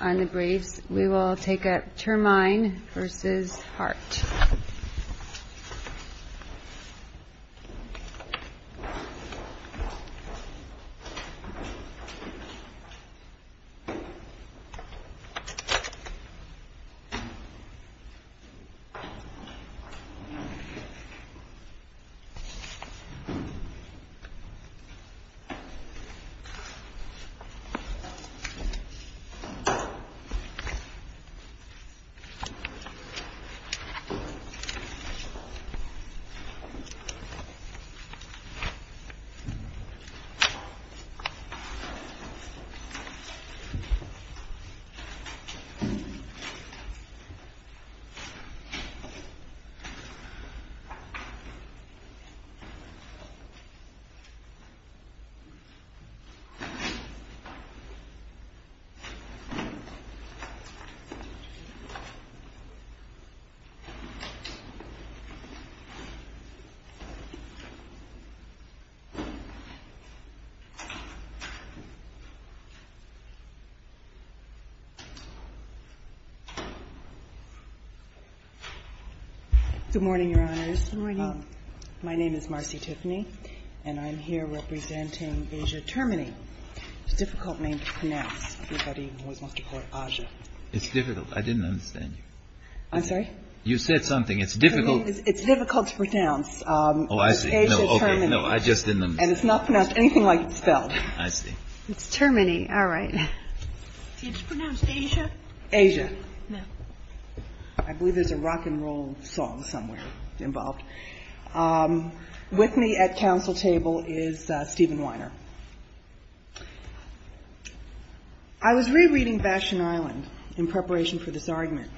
On the briefs, we will take up Termine v. Hart. Termine v. Hart School District Good morning, Your Honors. Good morning. My name is Marcy Tiffany, and I'm here representing Asia Termine. It's a difficult name to pronounce. It's difficult. I didn't understand you. I'm sorry? You said something. It's difficult. It's difficult to pronounce. It's Asia Termine, and it's not pronounced anything like it's spelled. I see. It's Termine. All right. Did you pronounce Asia? Asia. I believe there's a rock and roll song somewhere involved. With me at counsel table is Stephen Weiner. I was rereading Vashon Island in preparation for this argument,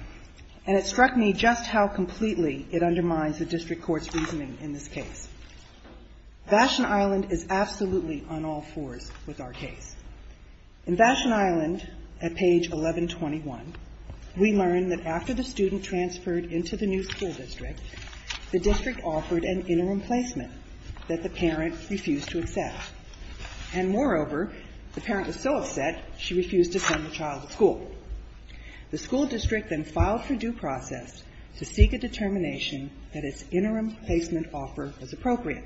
and it struck me just how completely it undermines the district court's reasoning in this case. Vashon Island is absolutely on all fours with our case. In Vashon Island, at page 1121, we learn that after the student transferred into the new school district, the district offered an interim placement that the parent refused to accept. And moreover, the parent was so upset, she refused to send the child to school. The school district then filed for due process to seek a determination that its interim placement offer was appropriate.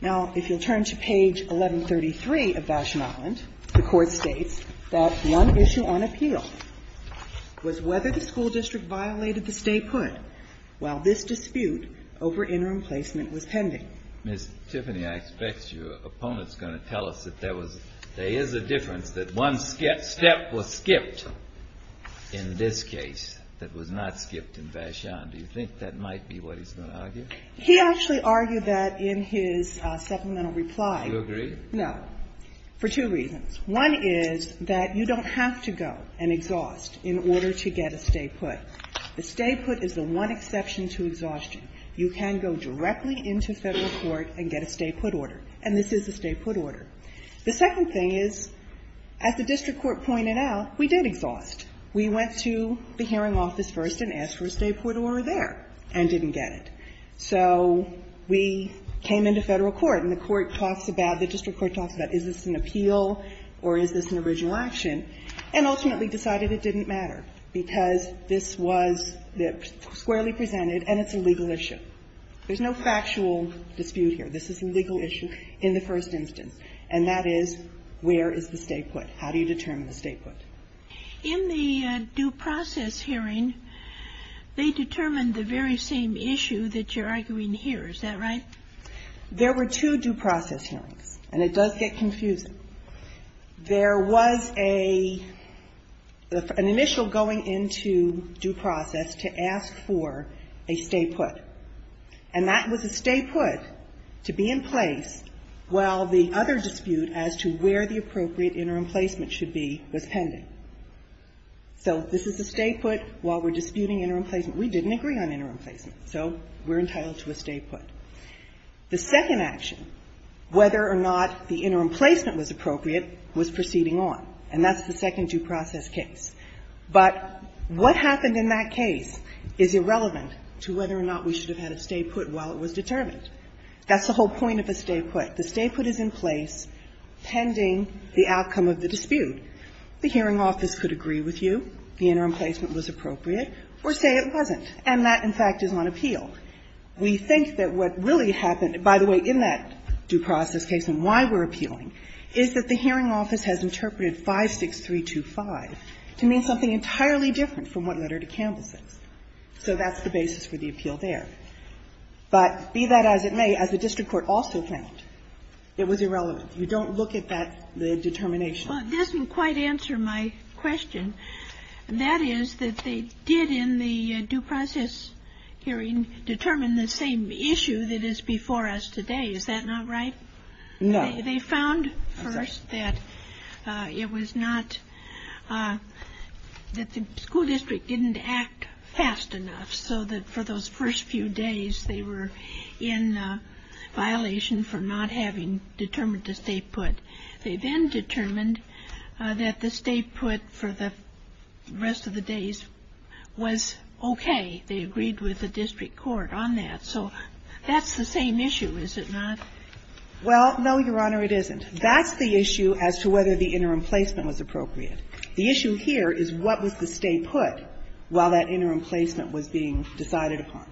Now, if you'll turn to page 1133 of Vashon Island, the Court states that one issue on appeal was whether the school district violated the stay put, while this dispute over interim placement was pending. Ms. Tiffany, I expect your opponent's going to tell us that there is a difference, that one step was skipped in this case that was not skipped in Vashon. Do you think that might be what he's going to argue? He actually argued that in his supplemental reply. Do you agree? No. For two reasons. One is that you don't have to go and exhaust in order to get a stay put. The stay put is the one exception to exhaustion. You can go directly into Federal court and get a stay put order. And this is a stay put order. The second thing is, as the district court pointed out, we did exhaust. We went to the hearing office first and asked for a stay put order there and didn't get it. So we came into Federal court and the court talks about, the district court talks about, is this an appeal or is this an original action? And ultimately decided it didn't matter because this was squarely presented and it's a legal issue. There's no factual dispute here. This is a legal issue in the first instance. And that is, where is the stay put? How do you determine the stay put? In the due process hearing, they determined the very same issue that you're arguing here. Is that right? There were two due process hearings, and it does get confusing. There was an initial going into due process to ask for a stay put. And that was a stay put to be in place while the other dispute as to where the appropriate interim placement should be was pending. So this is a stay put while we're disputing interim placement. We didn't agree on interim placement, so we're entitled to a stay put. The second action, whether or not the interim placement was appropriate, was proceeding on, and that's the second due process case. But what happened in that case is irrelevant to whether or not we should have had a stay put while it was determined. That's the whole point of a stay put. The stay put is in place pending the outcome of the dispute. The hearing office could agree with you the interim placement was appropriate or say it wasn't. And that, in fact, is on appeal. We think that what really happened, by the way, in that due process case and why we're appealing, is that the hearing office has interpreted 56325 to mean something entirely different from what Letter to Campbell says. So that's the basis for the appeal there. But be that as it may, as the district court also found, it was irrelevant. You don't look at that determination. Well, it doesn't quite answer my question. That is that they did in the due process hearing determine the same issue that is before us today. Is that not right? No. They found first that it was not that the school district didn't act fast enough so that for those first few days they were in violation for not having determined the stay put. They then determined that the stay put for the rest of the days was okay. They agreed with the district court on that. So that's the same issue, is it not? Well, no, Your Honor, it isn't. That's the issue as to whether the interim placement was appropriate. The issue here is what was the stay put while that interim placement was being decided upon.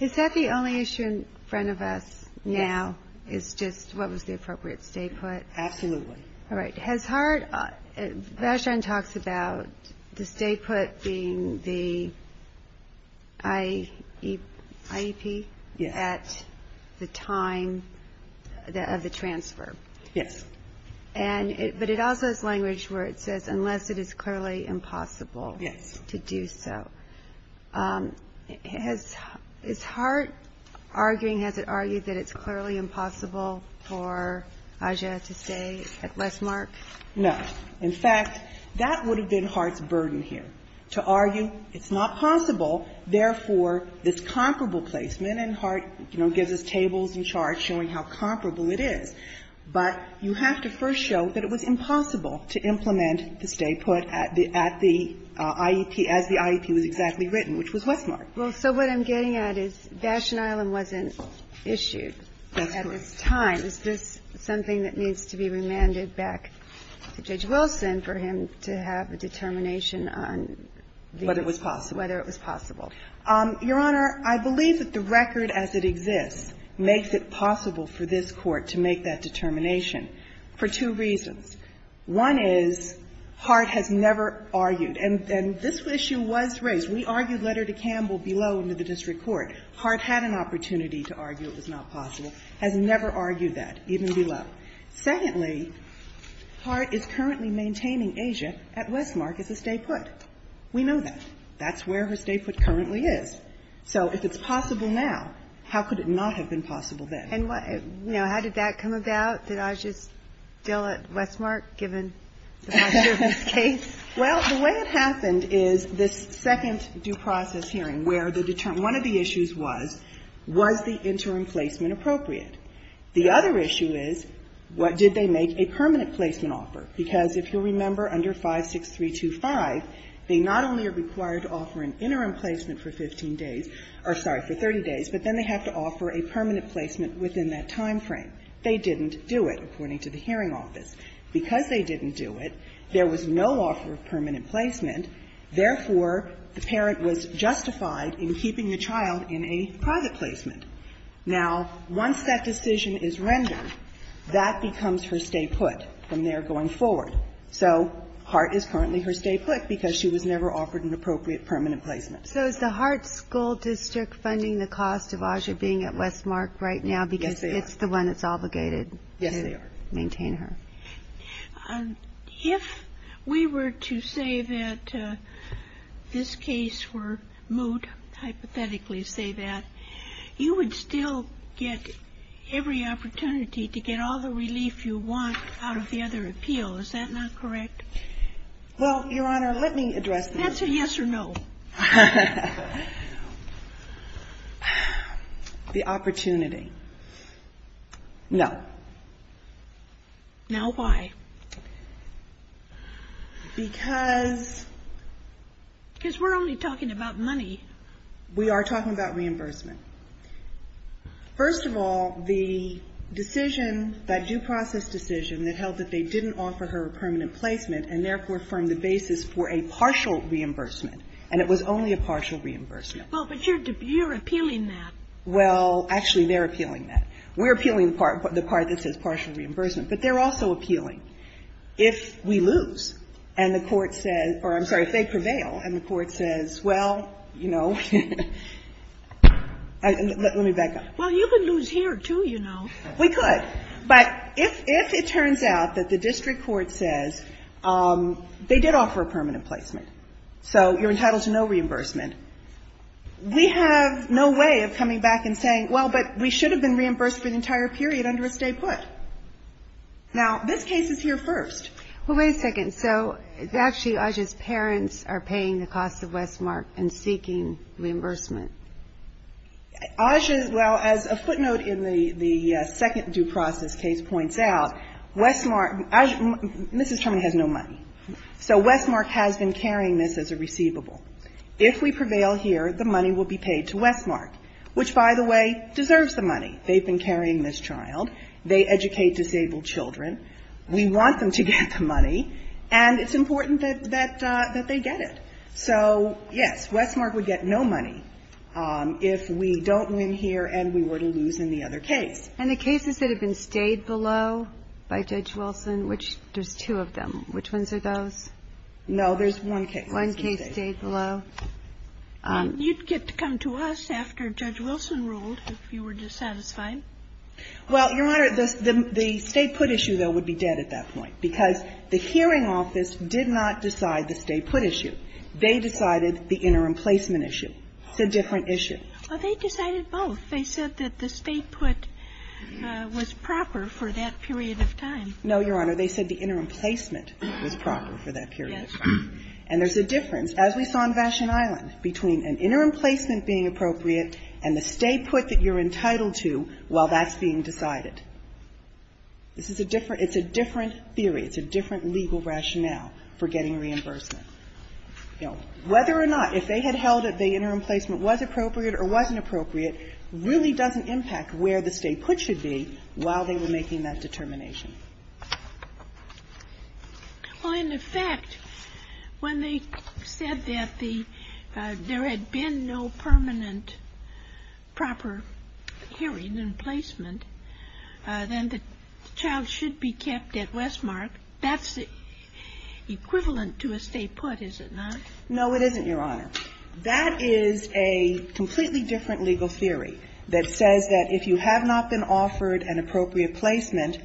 Is that the only issue in front of us now is just what was the appropriate stay put? Absolutely. All right. Has Hart, Vashon talks about the stay put being the IEP at the time of the transfer. Yes. But it also has language where it says unless it is clearly impossible to do so. Yes. Is Hart arguing, has it argued that it's clearly impossible for Aja to stay at Westmark? No. In fact, that would have been Hart's burden here, to argue it's not possible, therefore, this comparable placement, and Hart, you know, gives us tables and charts showing how comparable it is. But you have to first show that it was impossible to implement the stay put at the IEP, as the IEP was exactly written, which was Westmark. Well, so what I'm getting at is Vashon Island wasn't issued at this time. That's correct. Is this something that needs to be remanded back to Judge Wilson for him to have a determination on whether it was possible? Whether it was possible. Your Honor, I believe that the record as it exists makes it possible for this Court to make that determination for two reasons. One is Hart has never argued, and this issue was raised. We argued letter to Campbell below into the district court. Hart had an opportunity to argue it was not possible. Has never argued that, even below. Secondly, Hart is currently maintaining Aja at Westmark as a stay put. We know that. That's where her stay put currently is. So if it's possible now, how could it not have been possible then? And, you know, how did that come about? Did Aja still at Westmark, given the nature of this case? Well, the way it happened is this second due process hearing, where one of the issues was, was the interim placement appropriate? The other issue is, what did they make a permanent placement offer? Because if you'll remember, under 56325, they not only are required to offer an interim placement for 15 days, or sorry, for 30 days, but then they have to offer a permanent placement within that time frame. They didn't do it, according to the hearing office. Because they didn't do it, there was no offer of permanent placement. Therefore, the parent was justified in keeping the child in a private placement. Now, once that decision is rendered, that becomes her stay put from there going forward. So Hart is currently her stay put because she was never offered an appropriate permanent placement. So is the Hart School District funding the cost of Aja being at Westmark right now, because it's the one that's obligated to maintain her? Yes, they are. If we were to say that this case were moved, hypothetically say that, you would still get every opportunity to get all the relief you want out of the other appeal. Is that not correct? Well, Your Honor, let me address that. Answer yes or no. The opportunity. No. Now why? Because we're only talking about money. We are talking about reimbursement. First of all, the decision, that due process decision that held that they didn't offer her a permanent placement and therefore formed the basis for a partial reimbursement. And it was only a partial reimbursement. Well, but you're appealing that. Well, actually, they're appealing that. We're appealing the part that says partial reimbursement. But they're also appealing if we lose and the Court says or, I'm sorry, if they prevail and the Court says, well, you know, let me back up. Well, you could lose here, too, you know. We could. But if it turns out that the district court says they did offer a permanent placement, so you're entitled to no reimbursement, we have no way of coming back and saying, well, but we should have been reimbursed for the entire period under a stay put. Now, this case is here first. Well, wait a second. So actually, Aja's parents are paying the cost of Westmark and seeking reimbursement. Aja's, well, as a footnote in the second due process case points out, Westmark Mrs. Turman has no money. So Westmark has been carrying this as a receivable. If we prevail here, the money will be paid to Westmark, which, by the way, deserves the money. They've been carrying this child. They educate disabled children. We want them to get the money. And it's important that they get it. So, yes, Westmark would get no money if we don't win here and we were to lose in the other case. And the cases that have been stayed below by Judge Wilson, which there's two of them, which ones are those? No, there's one case. One case stayed below. You'd get to come to us after Judge Wilson ruled if you were dissatisfied. Well, Your Honor, the stay put issue, though, would be dead at that point because the hearing office did not decide the stay put issue. They decided the interim placement issue. It's a different issue. Well, they decided both. They said that the stay put was proper for that period of time. No, Your Honor. They said the interim placement was proper for that period. And there's a difference, as we saw in Vashon Island, between an interim placement being appropriate and the stay put that you're entitled to while that's being decided. This is a different – it's a different theory. It's a different legal rationale for getting reimbursement. You know, whether or not, if they had held that the interim placement was appropriate or wasn't appropriate really doesn't impact where the stay put should be while they were making that determination. Well, in effect, when they said that the – there had been no permanent proper hearing in placement, then the child should be kept at Westmark. That's equivalent to a stay put, is it not? No, it isn't, Your Honor. That is a completely different legal theory that says that if you have not been offered an appropriate placement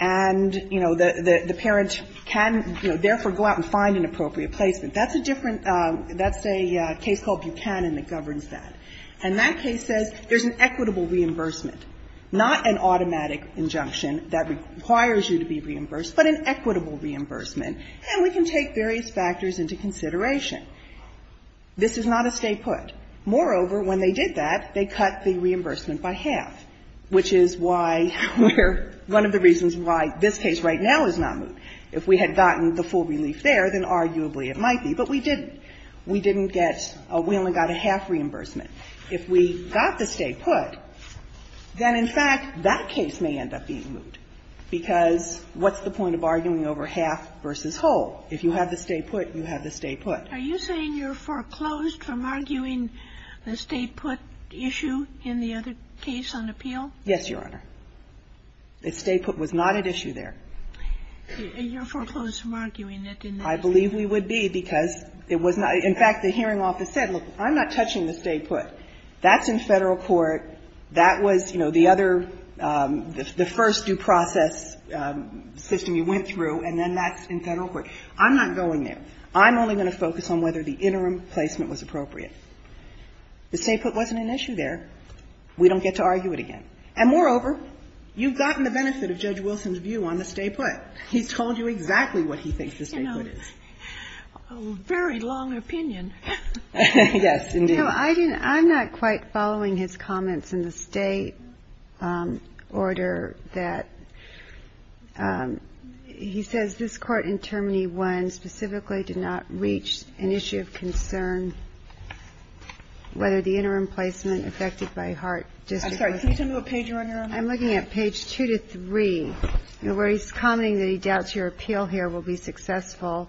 and, you know, the parent can, you know, therefore go out and find an appropriate placement. That's a different – that's a case called Buchanan that governs that. And that case says there's an equitable reimbursement, not an automatic injunction that requires you to be reimbursed, but an equitable reimbursement, and we can take various factors into consideration. This is not a stay put. Moreover, when they did that, they cut the reimbursement by half, which is why we're – one of the reasons why this case right now is not moved. If we had gotten the full relief there, then arguably it might be. But we didn't. We didn't get – we only got a half reimbursement. If we got the stay put, then, in fact, that case may end up being moved. Because what's the point of arguing over half versus whole? If you have the stay put, you have the stay put. Are you saying you're foreclosed from arguing the stay put issue in the other case on appeal? Yes, Your Honor. The stay put was not at issue there. And you're foreclosed from arguing it in this case? I believe we would be, because it was not – in fact, the hearing office said, look, I'm not touching the stay put. That's in Federal court. That was, you know, the other – the first due process system you went through, and then that's in Federal court. I'm not going there. I'm only going to focus on whether the interim placement was appropriate. The stay put wasn't an issue there. We don't get to argue it again. And moreover, you've gotten the benefit of Judge Wilson's view on the stay put. He's told you exactly what he thinks the stay put is. You know, a very long opinion. Yes, indeed. No, I didn't – I'm not quite following his comments in the stay order that – he says, this Court in Term 1 specifically did not reach an issue of concern, whether the interim placement affected by Hart District Court. I'm sorry. Can you tell me what page you're on, Your Honor? I'm looking at page 2 to 3, where he's commenting that he doubts your appeal here will be successful.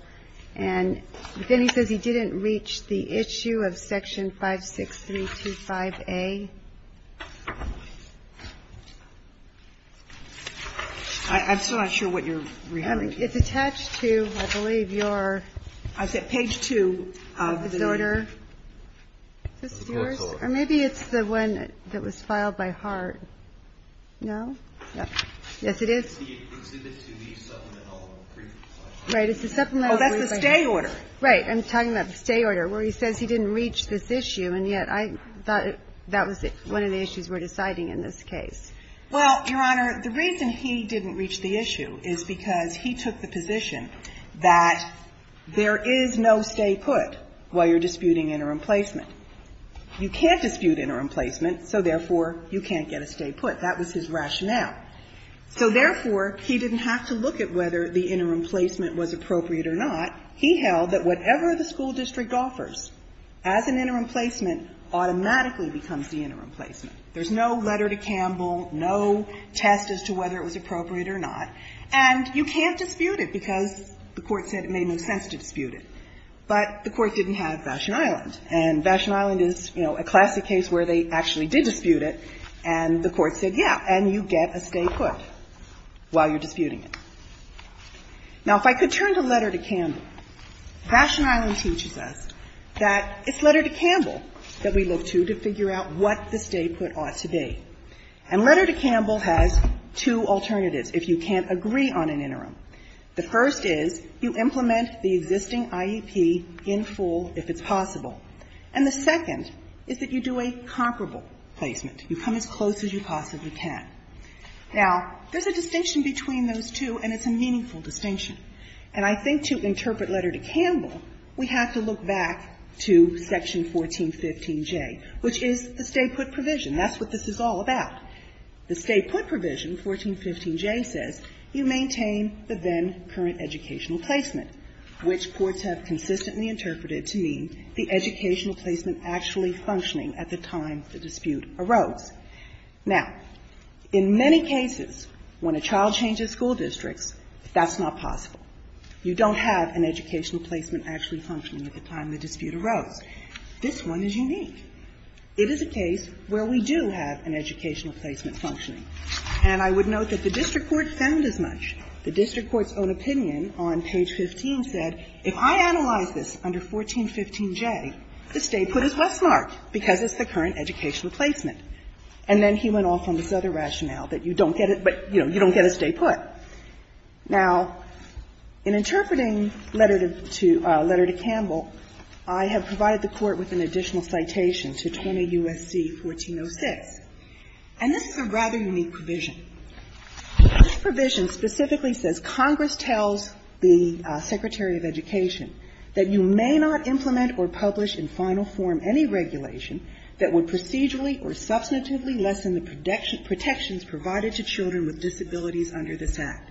And then he says he didn't reach the issue of Section 56325A. I'm still not sure what you're referring to. It's attached to, I believe, your – I said page 2 of the – Is this yours? Or maybe it's the one that was filed by Hart. No? Yes, it is. It's the exhibit to the supplemental. Right. Oh, that's the stay order. Right. I'm talking about the stay order, where he says he didn't reach this issue, and yet I thought that was one of the issues we're deciding in this case. Well, Your Honor, the reason he didn't reach the issue is because he took the position that there is no stay put while you're disputing interim placement. You can't dispute interim placement, so therefore, you can't get a stay put. That was his rationale. So therefore, he didn't have to look at whether the interim placement was appropriate or not. He held that whatever the school district offers as an interim placement automatically becomes the interim placement. There's no letter to Campbell, no test as to whether it was appropriate or not. And you can't dispute it because the Court said it made no sense to dispute it. But the Court didn't have Vashon Island. And Vashon Island is, you know, a classic case where they actually did dispute and the Court said, yeah, and you get a stay put while you're disputing it. Now, if I could turn to letter to Campbell. Vashon Island teaches us that it's letter to Campbell that we look to to figure out what the stay put ought to be. And letter to Campbell has two alternatives if you can't agree on an interim. The first is you implement the existing IEP in full if it's possible. And the second is that you do a comparable placement. You come as close as you possibly can. Now, there's a distinction between those two, and it's a meaningful distinction. And I think to interpret letter to Campbell, we have to look back to section 1415J, which is the stay put provision. That's what this is all about. The stay put provision, 1415J, says you maintain the then current educational placement, which courts have consistently interpreted to mean the educational placement actually functioning at the time the dispute arose. Now, in many cases when a child changes school districts, that's not possible. You don't have an educational placement actually functioning at the time the dispute arose. This one is unique. It is a case where we do have an educational placement functioning. And I would note that the district court found as much. The district court's own opinion on page 15 said, if I analyze this under 1415J, the stay put is Westmark because it's the current educational placement. And then he went off on this other rationale that you don't get it, but, you know, you don't get a stay put. Now, in interpreting letter to Campbell, I have provided the Court with an additional citation to 20 U.S.C. 1406. And this is a rather unique provision. This provision specifically says Congress tells the secretary of education that you may not implement or publish in final form any regulation that would procedurally or substantively lessen the protections provided to children with disabilities under this Act.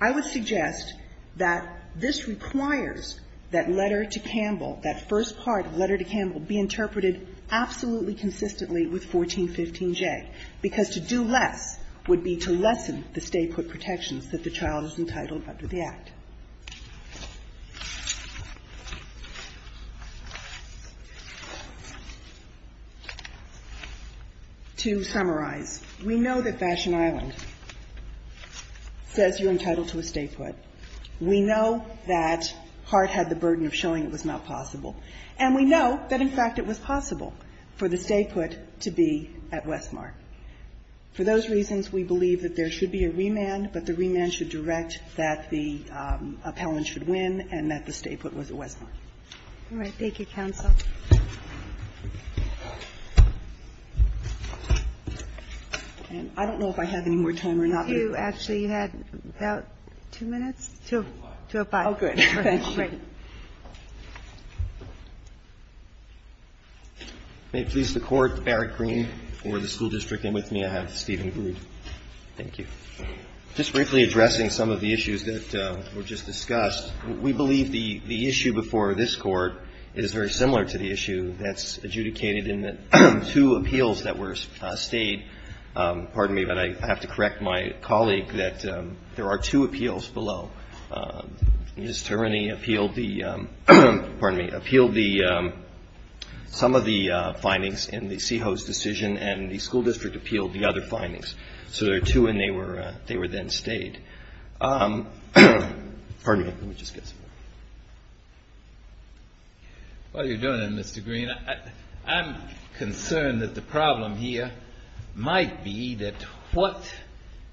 I would suggest that this requires that letter to Campbell, that first part of letter to Campbell, be interpreted absolutely consistently with 1415J, because to do less would be to lessen the stay put protections that the child is entitled under the Act. To summarize, we know that Fashion Island says you're entitled to a stay put. We know that Hart had the burden of showing it was not possible. And we know that, in fact, it was possible for the stay put to be at Westmark. For those reasons, we believe that there should be a remand, but the remand should direct that the appellant should win and that the stay put was at Westmark. All right. Thank you, counsel. And I don't know if I have any more time or not. You actually had about two minutes to apply. Thank you. May it please the Court, Eric Green for the school district, and with me I have Stephen Groot. Thank you. Just briefly addressing some of the issues that were just discussed, we believe the issue before this Court is very similar to the issue that's adjudicated in the two appeals that were stayed. Pardon me, but I have to correct my colleague that there are two appeals below. Ms. Tereni appealed the, pardon me, appealed some of the findings in the CEHO's decision and the school district appealed the other findings. So there are two and they were then stayed. Pardon me, let me just get some more. While you're doing it, Mr. Green, I'm concerned that the problem here might be that what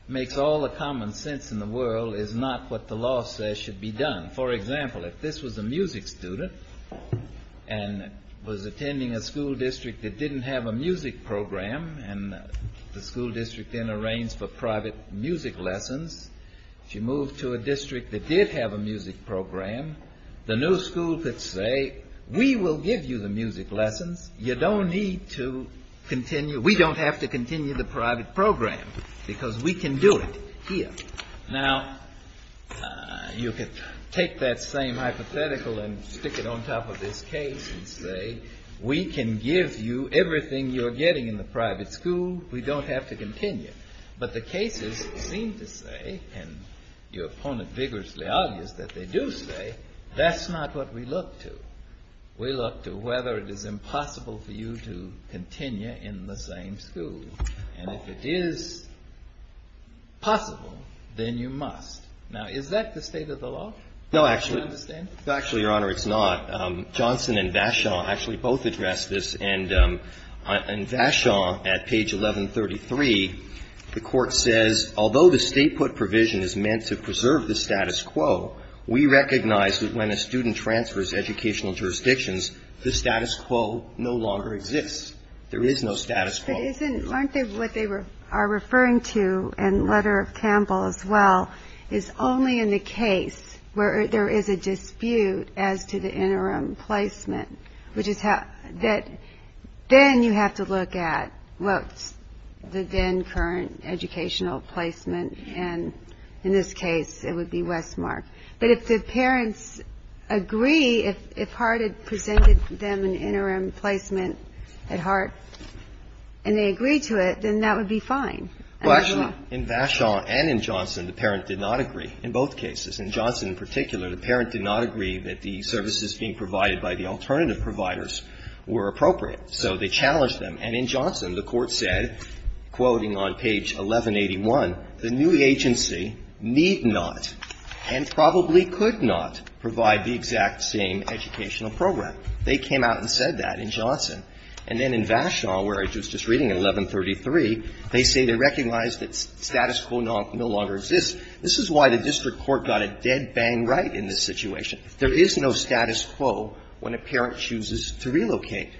makes all the common sense in the world is not what the law says should be done. For example, if this was a music student and was attending a school district that didn't have a music program and the school district then arranged for private music lessons, if you moved to a district that did have a music program, the new school could say, we will give you the music lessons. You don't need to continue. We don't have to continue the private program because we can do it here. Now, you could take that same hypothetical and stick it on top of this case and say, we can give you everything you're getting in the private school. We don't have to continue. But the cases seem to say, and your opponent vigorously argues that they do say, that's not what we look to. We look to whether it is impossible for you to continue in the same school. And if it is possible, then you must. Now, is that the state of the law? Do you understand? No, actually, Your Honor, it's not. Johnson and Vachon actually both addressed this. And Vachon, at page 1133, the Court says, although the state put provision is meant to preserve the status quo, we recognize that when a student transfers to educational jurisdictions, the status quo no longer exists. There is no status quo. But isn't what they are referring to in the letter of Campbell as well is only in the case where there is a dispute as to the interim placement, which is that then you have to look at, well, the then current educational placement, and in this case, it would be Westmark. But if the parents agree, if Hart had presented them an interim placement at Hart, and they agreed to it, then that would be fine. Well, actually, in Vachon and in Johnson, the parent did not agree in both cases. In Johnson in particular, the parent did not agree that the services being provided by the alternative providers were appropriate. So they challenged them. And in Johnson, the Court said, quoting on page 1181, the new agency need not and probably could not provide the exact same educational program. They came out and said that in Johnson. And then in Vachon, where I was just reading, at 1133, they say they recognize that status quo no longer exists. This is why the district court got a dead bang right in this situation. There is no status quo when a parent chooses to relocate.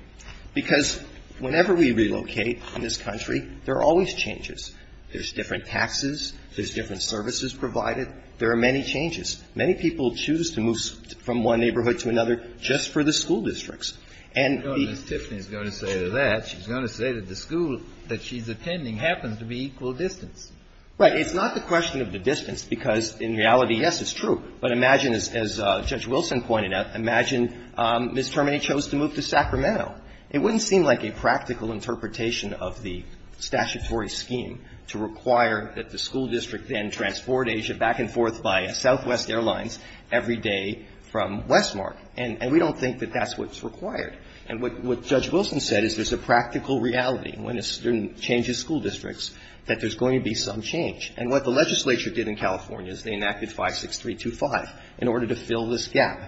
Because whenever we relocate in this country, there are always changes. There's different taxes. There's different services provided. There are many changes. Many people choose to move from one neighborhood to another just for the school districts. And the ---- Kennedy. Well, Tiffany is going to say that. She's going to say that the school that she's attending happens to be equal distance. Right. It's not the question of the distance, because in reality, yes, it's true. But imagine, as Judge Wilson pointed out, imagine Ms. Termini chose to move to Sacramento. It wouldn't seem like a practical interpretation of the statutory scheme to require that the school district then transport Asia back and forth by Southwest Airlines every day from Westmark. And we don't think that that's what's required. And what Judge Wilson said is there's a practical reality when a student changes school districts that there's going to be some change. And what the legislature did in California is they enacted 56325 in order to fill this gap.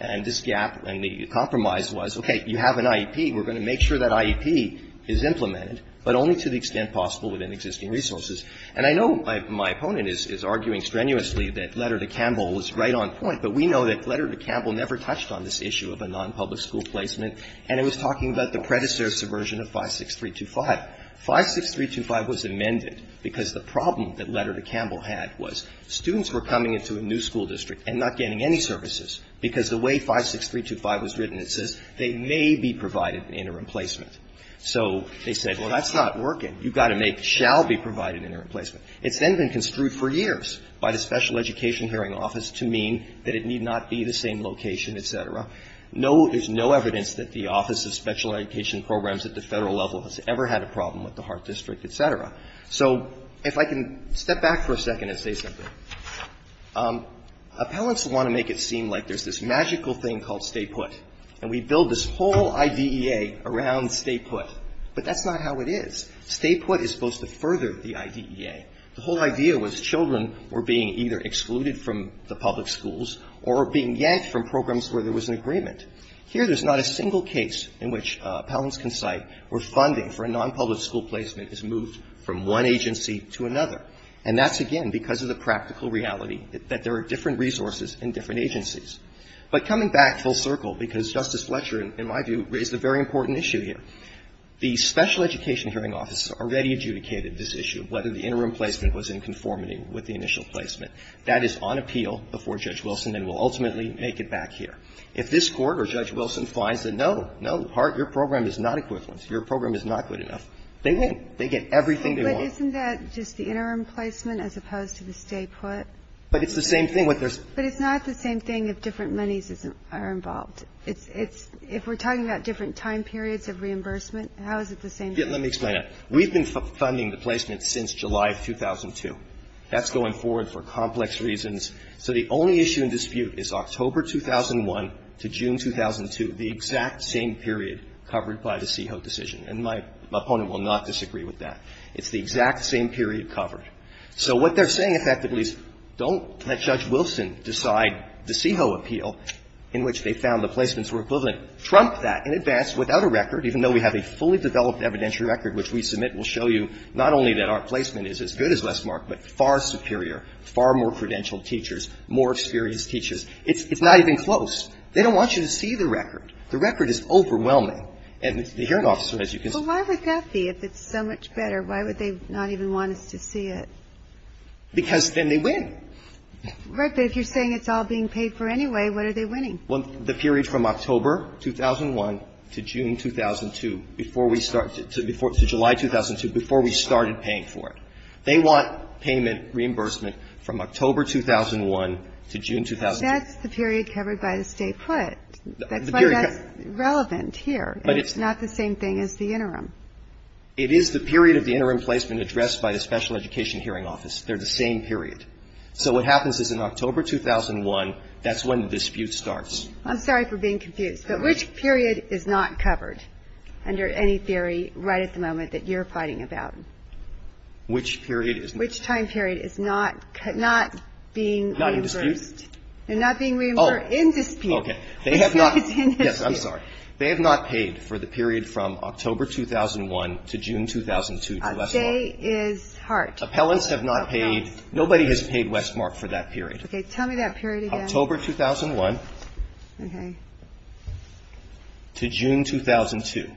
And this gap and the compromise was, okay, you have an IEP, we're going to make sure that IEP is implemented, but only to the extent possible within existing resources. And I know my opponent is arguing strenuously that Letter to Campbell was right on point, but we know that Letter to Campbell never touched on this issue of a nonpublic school placement, and it was talking about the predecessor subversion of 56325. 56325 was amended because the problem that Letter to Campbell had was students were coming into a new school district and not getting any services, because the way 56325 was written, it says they may be provided an interim placement. So they said, well, that's not working. You've got to make, shall be provided an interim placement. It's then been construed for years by the Special Education Hearing Office to mean that it need not be the same location, et cetera. No, there's no evidence that the Office of Special Education Programs at the Federal level has ever had a problem with the Hart District, et cetera. So if I can step back for a second and say something. Appellants want to make it seem like there's this magical thing called stay put. And we build this whole IDEA around stay put. But that's not how it is. Stay put is supposed to further the IDEA. The whole idea was children were being either excluded from the public schools or being yanked from programs where there was an agreement. Here there's not a single case in which appellants can cite where funding for a nonpublic school placement is moved from one agency to another. And that's, again, because of the practical reality that there are different resources in different agencies. But coming back full circle, because Justice Fletcher, in my view, raised a very important issue here. The Special Education Hearing Office already adjudicated this issue of whether the interim placement was in conformity with the initial placement. That is on appeal before Judge Wilson and will ultimately make it back here. If this Court or Judge Wilson finds that, no, no, Hart, your program is not equivalent, your program is not good enough, they win. They get everything they want. But isn't that just the interim placement as opposed to the stay put? But it's the same thing. But it's not the same thing if different monies are involved. If we're talking about different time periods of reimbursement, how is it the same thing? Let me explain that. We've been funding the placement since July of 2002. That's going forward for complex reasons. So the only issue in dispute is October 2001 to June 2002, the exact same period covered by the CEHO decision. And my opponent will not disagree with that. It's the exact same period covered. So what they're saying effectively is don't let Judge Wilson decide the CEHO appeal, in which they found the placements were equivalent, trump that in advance without a record, even though we have a fully developed evidentiary record which we submit will show you not only that our placement is as good as Westmark, but far superior, far more credentialed teachers, more experienced teachers. It's not even close. They don't want you to see the record. The record is overwhelming. And the hearing officer, as you can see. But why would that be, if it's so much better? Why would they not even want us to see it? Because then they win. Right. But if you're saying it's all being paid for anyway, what are they winning? Well, the period from October 2001 to June 2002, before we start to – to July 2002, before we started paying for it. They want payment reimbursement from October 2001 to June 2002. That's the period covered by the State put. That's why that's relevant here. But it's not the same thing as the interim. It is the period of the interim placement addressed by the special education hearing office. They're the same period. So what happens is in October 2001, that's when the dispute starts. I'm sorry for being confused. But which period is not covered under any theory right at the moment that you're fighting about? Which period is not? Which time period is not being reimbursed? Not in dispute. They're not being reimbursed in dispute. Okay. They have not – yes, I'm sorry. They have not paid for the period from October 2001 to June 2002. A day is hard. Appellants have not paid. Nobody has paid Westmark for that period. Okay. Tell me that period again. October 2001 to June 2002.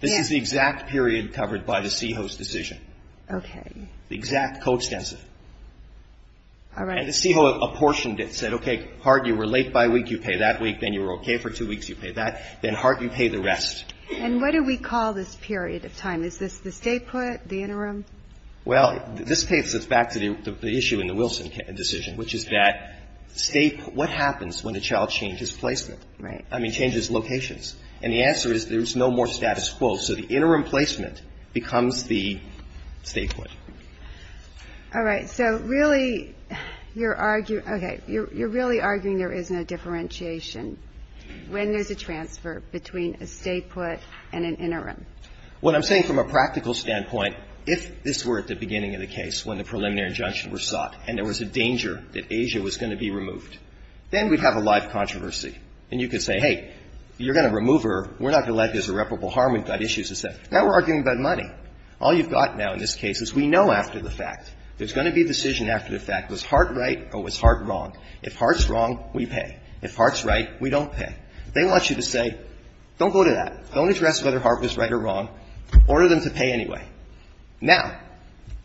This is the exact period covered by the CEHO's decision. Okay. The exact coextensive. All right. And the CEHO apportioned it, said, okay, Hart, you were late by a week. You pay that week. Then you were okay for two weeks. You pay that. Then, Hart, you pay the rest. And what do we call this period of time? Is this the statehood, the interim? Well, this paints us back to the issue in the Wilson decision, which is that state – what happens when a child changes placement? Right. I mean, changes locations. And the answer is there's no more status quo. So the interim placement becomes the statehood. All right. So really, you're arguing – okay. You're really arguing there is no differentiation when there's a transfer between a statehood and an interim. What I'm saying from a practical standpoint, if this were at the beginning of the case when the preliminary injunction was sought and there was a danger that Asia was going to be removed, then we'd have a live controversy. And you could say, hey, you're going to remove her. We're not going to let her. There's irreparable harm. We've got issues. Now we're arguing about money. All you've got now in this case is we know after the fact. There's going to be a decision after the fact. Was Hart right or was Hart wrong? If Hart's wrong, we pay. If Hart's right, we don't pay. They want you to say, don't go to that. Don't address whether Hart was right or wrong. Order them to pay anyway. Now –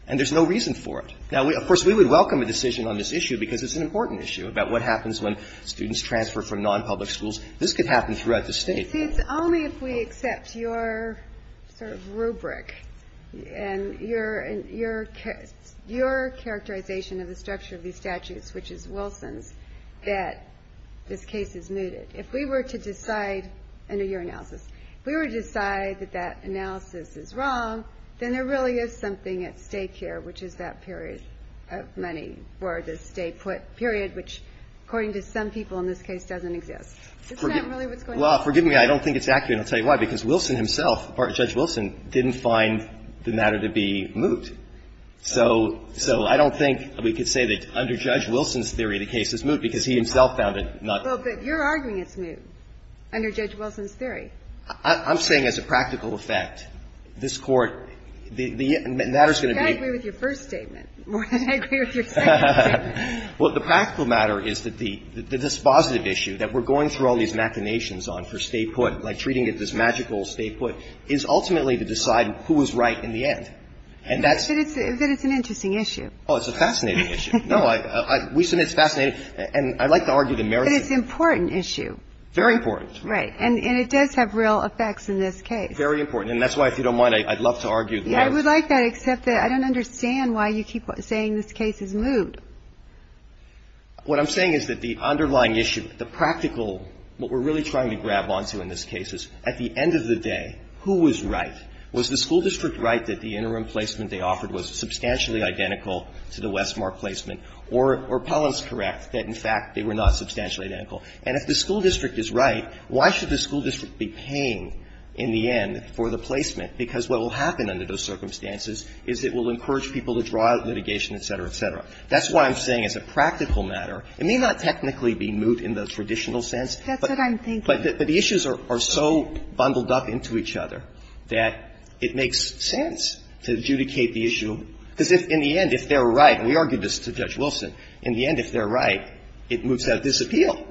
and there's no reason for it. Now, of course, we would welcome a decision on this issue because it's an important issue about what happens when students transfer from nonpublic schools. This could happen throughout the state. You see, it's only if we accept your sort of rubric and your characterization of the structure of these statutes, which is Wilson's, that this case is mooted. If we were to decide – under your analysis – if we were to decide that that analysis is wrong, then there really is something at stake here, which is that period of money for the stay put period, which according to some people in this case doesn't exist. It's not really what's going on. Well, forgive me. I don't think it's accurate, and I'll tell you why. Because Wilson himself, Judge Wilson, didn't find the matter to be moot. So I don't think we could say that under Judge Wilson's theory the case is moot because he himself found it not. Well, but you're arguing it's moot under Judge Wilson's theory. I'm saying as a practical effect, this Court, the matter's going to be – I agree with your first statement more than I agree with your second statement. Well, the practical matter is that the dispositive issue that we're going through all these machinations on for stay put, like treating it this magical stay put, is ultimately to decide who was right in the end. And that's – But it's an interesting issue. Oh, it's a fascinating issue. No, I – Wilson, it's fascinating. And I'd like to argue the merits of – But it's an important issue. Very important. Right. And it does have real effects in this case. Very important. And that's why, if you don't mind, I'd love to argue the – I would like that, except that I don't understand why you keep saying this case is moot. What I'm saying is that the underlying issue, the practical – what we're really trying to grab onto in this case is, at the end of the day, who was right? Was the school district right that the interim placement they offered was substantially identical to the Westmore placement? Or Paul is correct that, in fact, they were not substantially identical. And if the school district is right, why should the school district be paying, in the end, for the placement? Because what will happen under those circumstances is it will encourage people to draw out litigation, et cetera, et cetera. That's what I'm saying as a practical matter. It may not technically be moot in the traditional sense. That's what I'm thinking. But the issues are so bundled up into each other that it makes sense to adjudicate the issue, because if, in the end, if they're right – and we argued this to Judge Wilson – in the end, if they're right, it moves out of disappeal,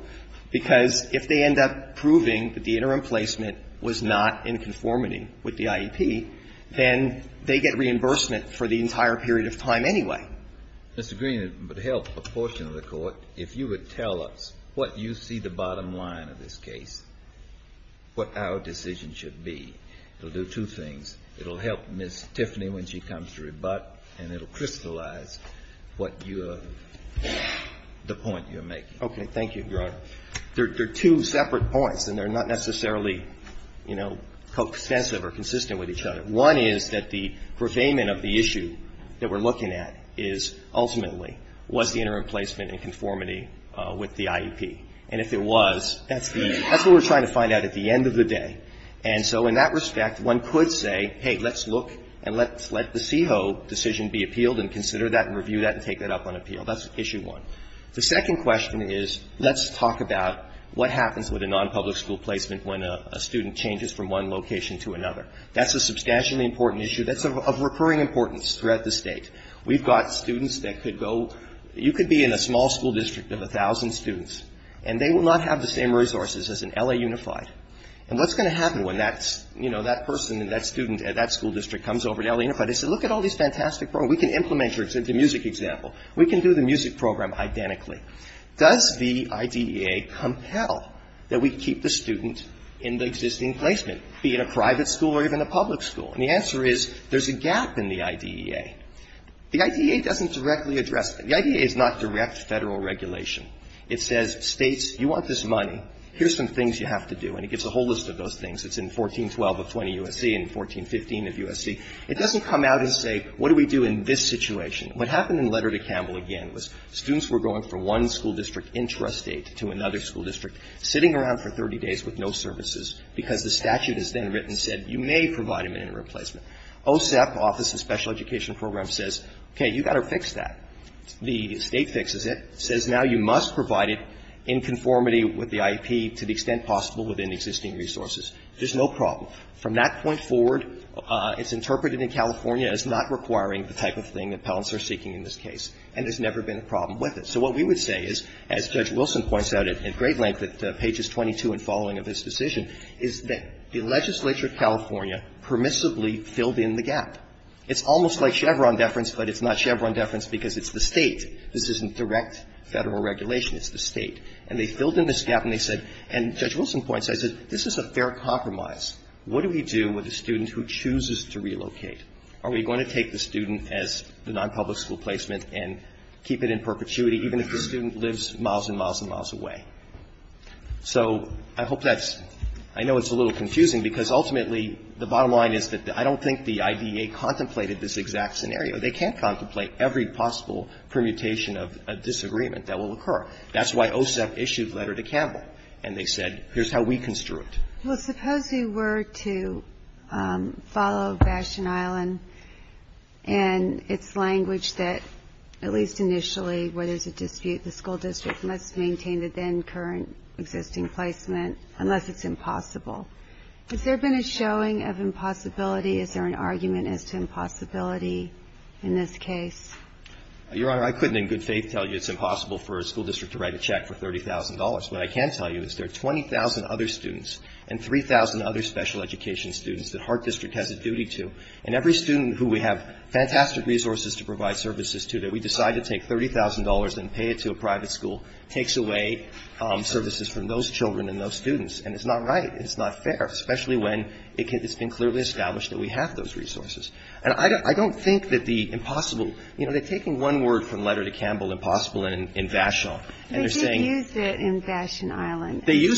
because if they end up proving that the interim placement was not in conformity with the IEP, then they get reimbursement for the entire period of time anyway. Mr. Green, it would help a portion of the Court if you would tell us what you see the bottom line of this case, what our decision should be. It will do two things. It will help Ms. Tiffany when she comes to rebut, and it will crystallize what you're – the point you're making. Thank you, Your Honor. There are two separate points, and they're not necessarily, you know, coextensive or consistent with each other. One is that the purveyment of the issue that we're looking at is ultimately was the interim placement in conformity with the IEP. And if it was, that's the – that's what we're trying to find out at the end of the day. And so in that respect, one could say, hey, let's look and let's let the CEHO decision be appealed and consider that and review that and take that up on appeal. That's issue one. The second question is let's talk about what happens with a nonpublic school placement when a student changes from one location to another. That's a substantially important issue. That's of recurring importance throughout the State. We've got students that could go – you could be in a small school district of a thousand students, and they will not have the same resources as an LA Unified. And what's going to happen when that's – you know, that person, that student at that school district comes over to LA Unified? They say, look at all these fantastic programs. We can implement your – the music example. We can do the music program. Identically. Does the IDEA compel that we keep the student in the existing placement, be it a private school or even a public school? And the answer is there's a gap in the IDEA. The IDEA doesn't directly address that. The IDEA is not direct Federal regulation. It says, States, you want this money. Here's some things you have to do. And it gives a whole list of those things. It's in 1412 of 20 U.S.C. and 1415 of U.S.C. It doesn't come out and say, what do we do in this situation? What happened in Letter to Campbell, again, was students were going from one school district intrastate to another school district, sitting around for 30 days with no services, because the statute is then written, said, you may provide them an interim placement. OSEP, Office of Special Education Programs, says, okay, you've got to fix that. The State fixes it. It says now you must provide it in conformity with the IEP to the extent possible within existing resources. There's no problem. From that point forward, it's interpreted in California as not requiring the type of thing appellants are seeking in this case, and there's never been a problem with it. So what we would say is, as Judge Wilson points out at great length at pages 22 and following of this decision, is that the legislature of California permissibly filled in the gap. It's almost like Chevron deference, but it's not Chevron deference because it's the State. This isn't direct Federal regulation. It's the State. And they filled in this gap and they said, and Judge Wilson points out, this is a fair compromise. What do we do with a student who chooses to relocate? Are we going to take the student as the nonpublic school placement and keep it in perpetuity even if the student lives miles and miles and miles away? So I hope that's ‑‑ I know it's a little confusing because ultimately the bottom line is that I don't think the IDEA contemplated this exact scenario. They can't contemplate every possible permutation of a disagreement that will occur. That's why OSEP issued a letter to Campbell and they said, here's how we construe Well, suppose we were to follow Bastion Island and its language that at least initially where there's a dispute, the school district must maintain the then current existing placement unless it's impossible. Has there been a showing of impossibility? Is there an argument as to impossibility in this case? Your Honor, I couldn't in good faith tell you it's impossible for a school district to write a check for $30,000. What I can tell you is there are 20,000 other students and 3,000 other special education students that Hart District has a duty to. And every student who we have fantastic resources to provide services to that we decide to take $30,000 and pay it to a private school takes away services from those children and those students. And it's not right. It's not fair, especially when it's been clearly established that we have those resources. And I don't think that the impossible ‑‑ you know, they're taking one word from Letter to Campbell, impossible, and Vashon, and they're saying They use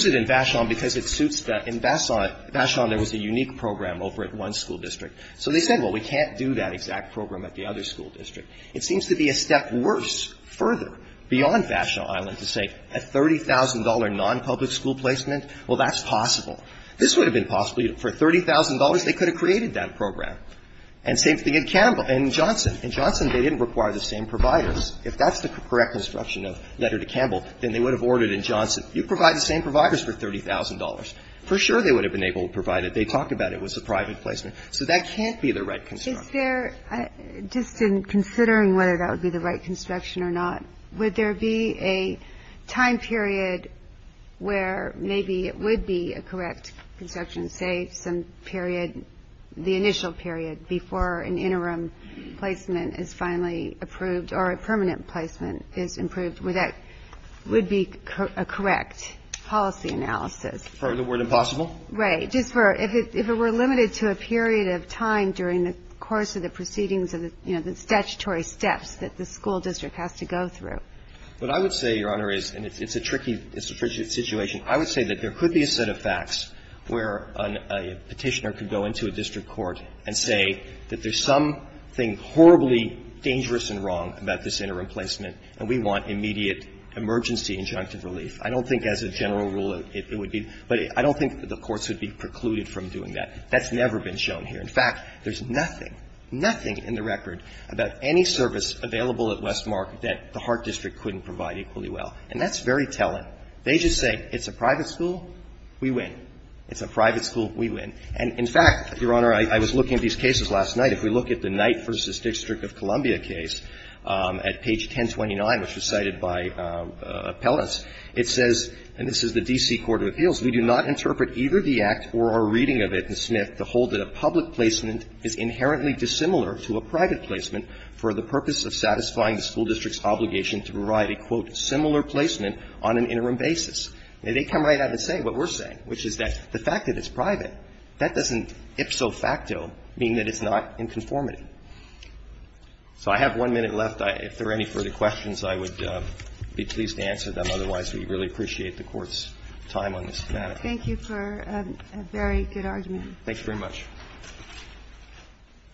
it in Vashon because it suits the ‑‑ in Vashon ‑‑ Vashon, there was a unique program over at one school district. So they said, well, we can't do that exact program at the other school district. It seems to be a step worse, further, beyond Vashon Island to say, a $30,000 non‑public school placement, well, that's possible. This would have been possible. For $30,000 they could have created that program. And same thing at Campbell ‑‑ Johnson. In Johnson, they didn't require the same providers. If that's the correct instruction of letter to Campbell, then they would have ordered in Johnson, you provide the same providers for $30,000. For sure they would have been able to provide it. They talked about it was a private placement. So that can't be the right construction. Just in considering whether that would be the right construction or not, would there be a time period where maybe it would be a correct construction, say, some period, the initial period, before an interim placement is finally approved or a permanent placement is approved, where that would be a correct policy analysis? For the word impossible? Right. Just for ‑‑ if it were limited to a period of time during the course of the proceedings of the, you know, the statutory steps that the school district has to go through. What I would say, Your Honor, is, and it's a tricky situation, I would say that there could be a set of facts where a petitioner could go into a district court and say that there's something horribly dangerous and wrong about this interim placement and we want immediate emergency injunctive relief. I don't think as a general rule it would be. But I don't think the courts would be precluded from doing that. That's never been shown here. In fact, there's nothing, nothing in the record about any service available at Westmark that the Hart District couldn't provide equally well. And that's very telling. They just say it's a private school, we win. It's a private school, we win. And in fact, Your Honor, I was looking at these cases last night. If we look at the Knight v. District of Columbia case at page 1029, which was cited by Pellis, it says, and this is the D.C. Court of Appeals, we do not interpret either the act or our reading of it in Smith to hold that a public placement is inherently dissimilar to a private placement for the purpose of satisfying the school district's obligation to provide a, quote, similar placement on an interim basis. Now, they come right out and say what we're saying, which is that the fact that it's private, that doesn't ipso facto mean that it's not inconformity. So I have one minute left. If there are any further questions, I would be pleased to answer them. Otherwise, we really appreciate the Court's time on this matter. Thank you for a very good argument. Thank you very much.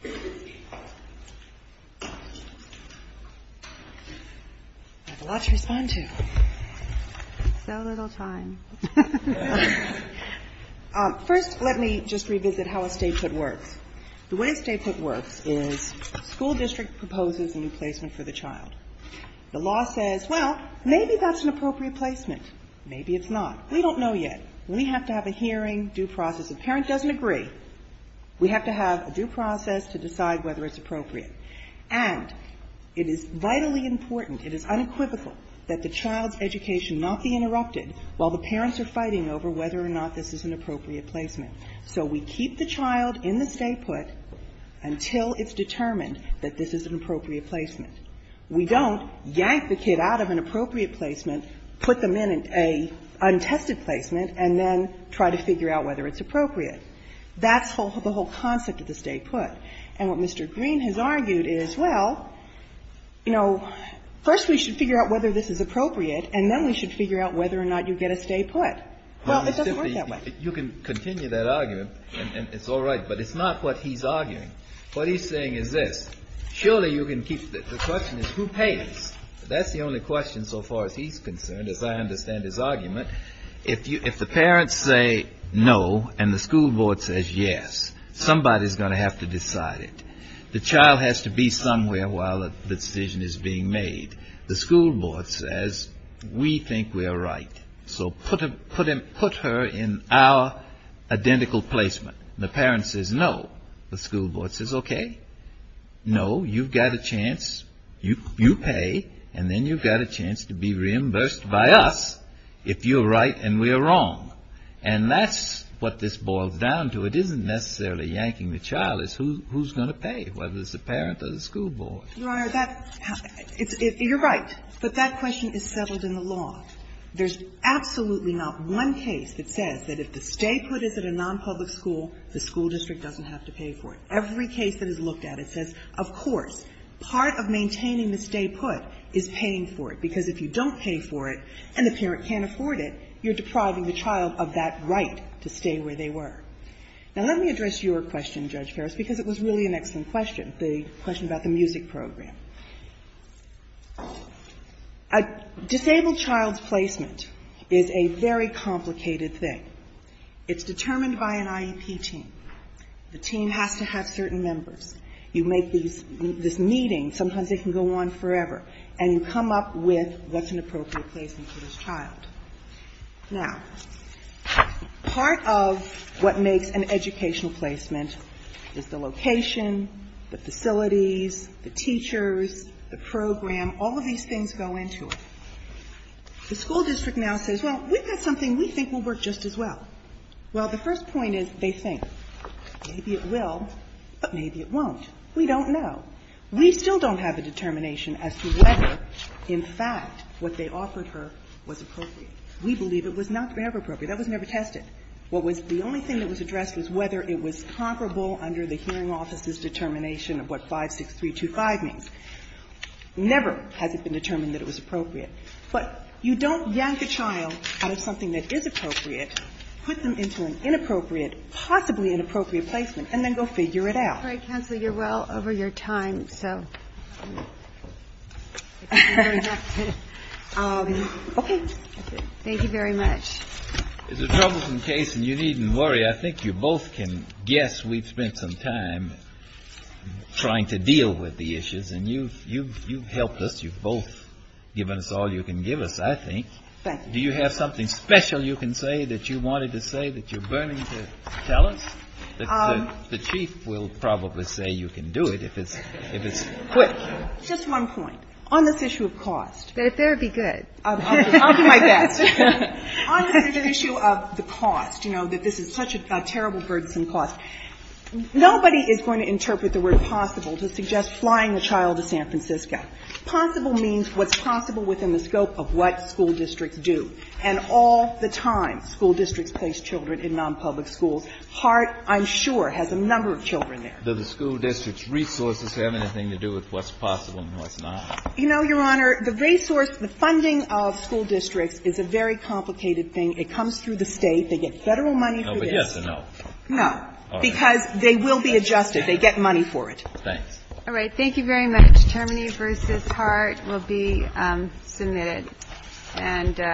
I have a lot to respond to. So little time. First, let me just revisit how a statehood works. The way a statehood works is school district proposes a new placement for the child. The law says, well, maybe that's an appropriate placement. Maybe it's not. We don't know yet. We have to have a hearing, due process. The parent doesn't agree. We have to have a due process to decide whether it's appropriate. And it is vitally important, it is unequivocal, that the child's education not be interrupted while the parents are fighting over whether or not this is an appropriate placement. So we keep the child in the statehood until it's determined that this is an appropriate placement. We don't yank the kid out of an appropriate placement, put them in an untested placement, and then try to figure out whether it's appropriate. That's the whole concept of the statehood. And what Mr. Green has argued is, well, you know, first we should figure out whether this is appropriate, and then we should figure out whether or not you get a stay put. Well, it doesn't work that way. You can continue that argument, and it's all right. But it's not what he's arguing. What he's saying is this. Surely you can keep the question is who pays? That's the only question so far as he's concerned, as I understand his argument. If the parents say no and the school board says yes, somebody's going to have to decide it. The child has to be somewhere while the decision is being made. The school board says, we think we're right. So put her in our identical placement. The parent says no. The school board says, OK. No, you've got a chance. You pay, and then you've got a chance to be reimbursed by us if you're right and we're wrong. And that's what this boils down to. It isn't necessarily yanking the child. It's who's going to pay, whether it's the parent or the school board. You're right, but that question is settled in the law. There's absolutely not one case that says that if the stay put is at a nonpublic school, the school district doesn't have to pay for it. Every case that is looked at, it says, of course, part of maintaining the stay put is paying for it, because if you don't pay for it and the parent can't afford it, you're depriving the child of that right to stay where they were. Now, let me address your question, Judge Ferris, because it was really an excellent question, the question about the music program. A disabled child's placement is a very complicated thing. It's determined by an IEP team. The team has to have certain members. You make these meetings. Sometimes they can go on forever. And you come up with what's an appropriate placement for this child. Now, part of what makes an educational placement is the location, the facilities, the teachers, the program. All of these things go into it. The school district now says, well, we've got something we think will work just as well. Well, the first point is they think. Maybe it will, but maybe it won't. We don't know. We still don't have a determination as to whether, in fact, what they offered her was appropriate. We believe it was not ever appropriate. That was never tested. What was the only thing that was addressed was whether it was comparable under the hearing office's determination of what 56325 means. Never has it been determined that it was appropriate. But you don't yank a child out of something that is appropriate, put them into an inappropriate, possibly inappropriate placement, and then go figure it out. All right, Counselor, you're well over your time. So thank you very much. It's a troublesome case, and you needn't worry. I think you both can guess we've spent some time trying to deal with the issues. And you've helped us. You've both given us all you can give us, I think. Thank you. Do you have something special you can say that you wanted to say that you're burning to tell us? The Chief will probably say you can do it if it's quick. Just one point. On this issue of cost. But if there be good. I'll do my best. On this issue of the cost, you know, that this is such a terrible, burdensome cost, nobody is going to interpret the word possible to suggest flying a child to San Francisco. Possible means what's possible within the scope of what school districts do. And all the time school districts place children in nonpublic schools. Hart, I'm sure, has a number of children there. Does the school district's resources have anything to do with what's possible and what's not? You know, Your Honor, the resource, the funding of school districts is a very complicated thing. It comes through the State. They get Federal money for this. No, but yes or no? No. All right. Because they will be adjusted. They get money for it. Thanks. All right. Thank you very much. Thank you.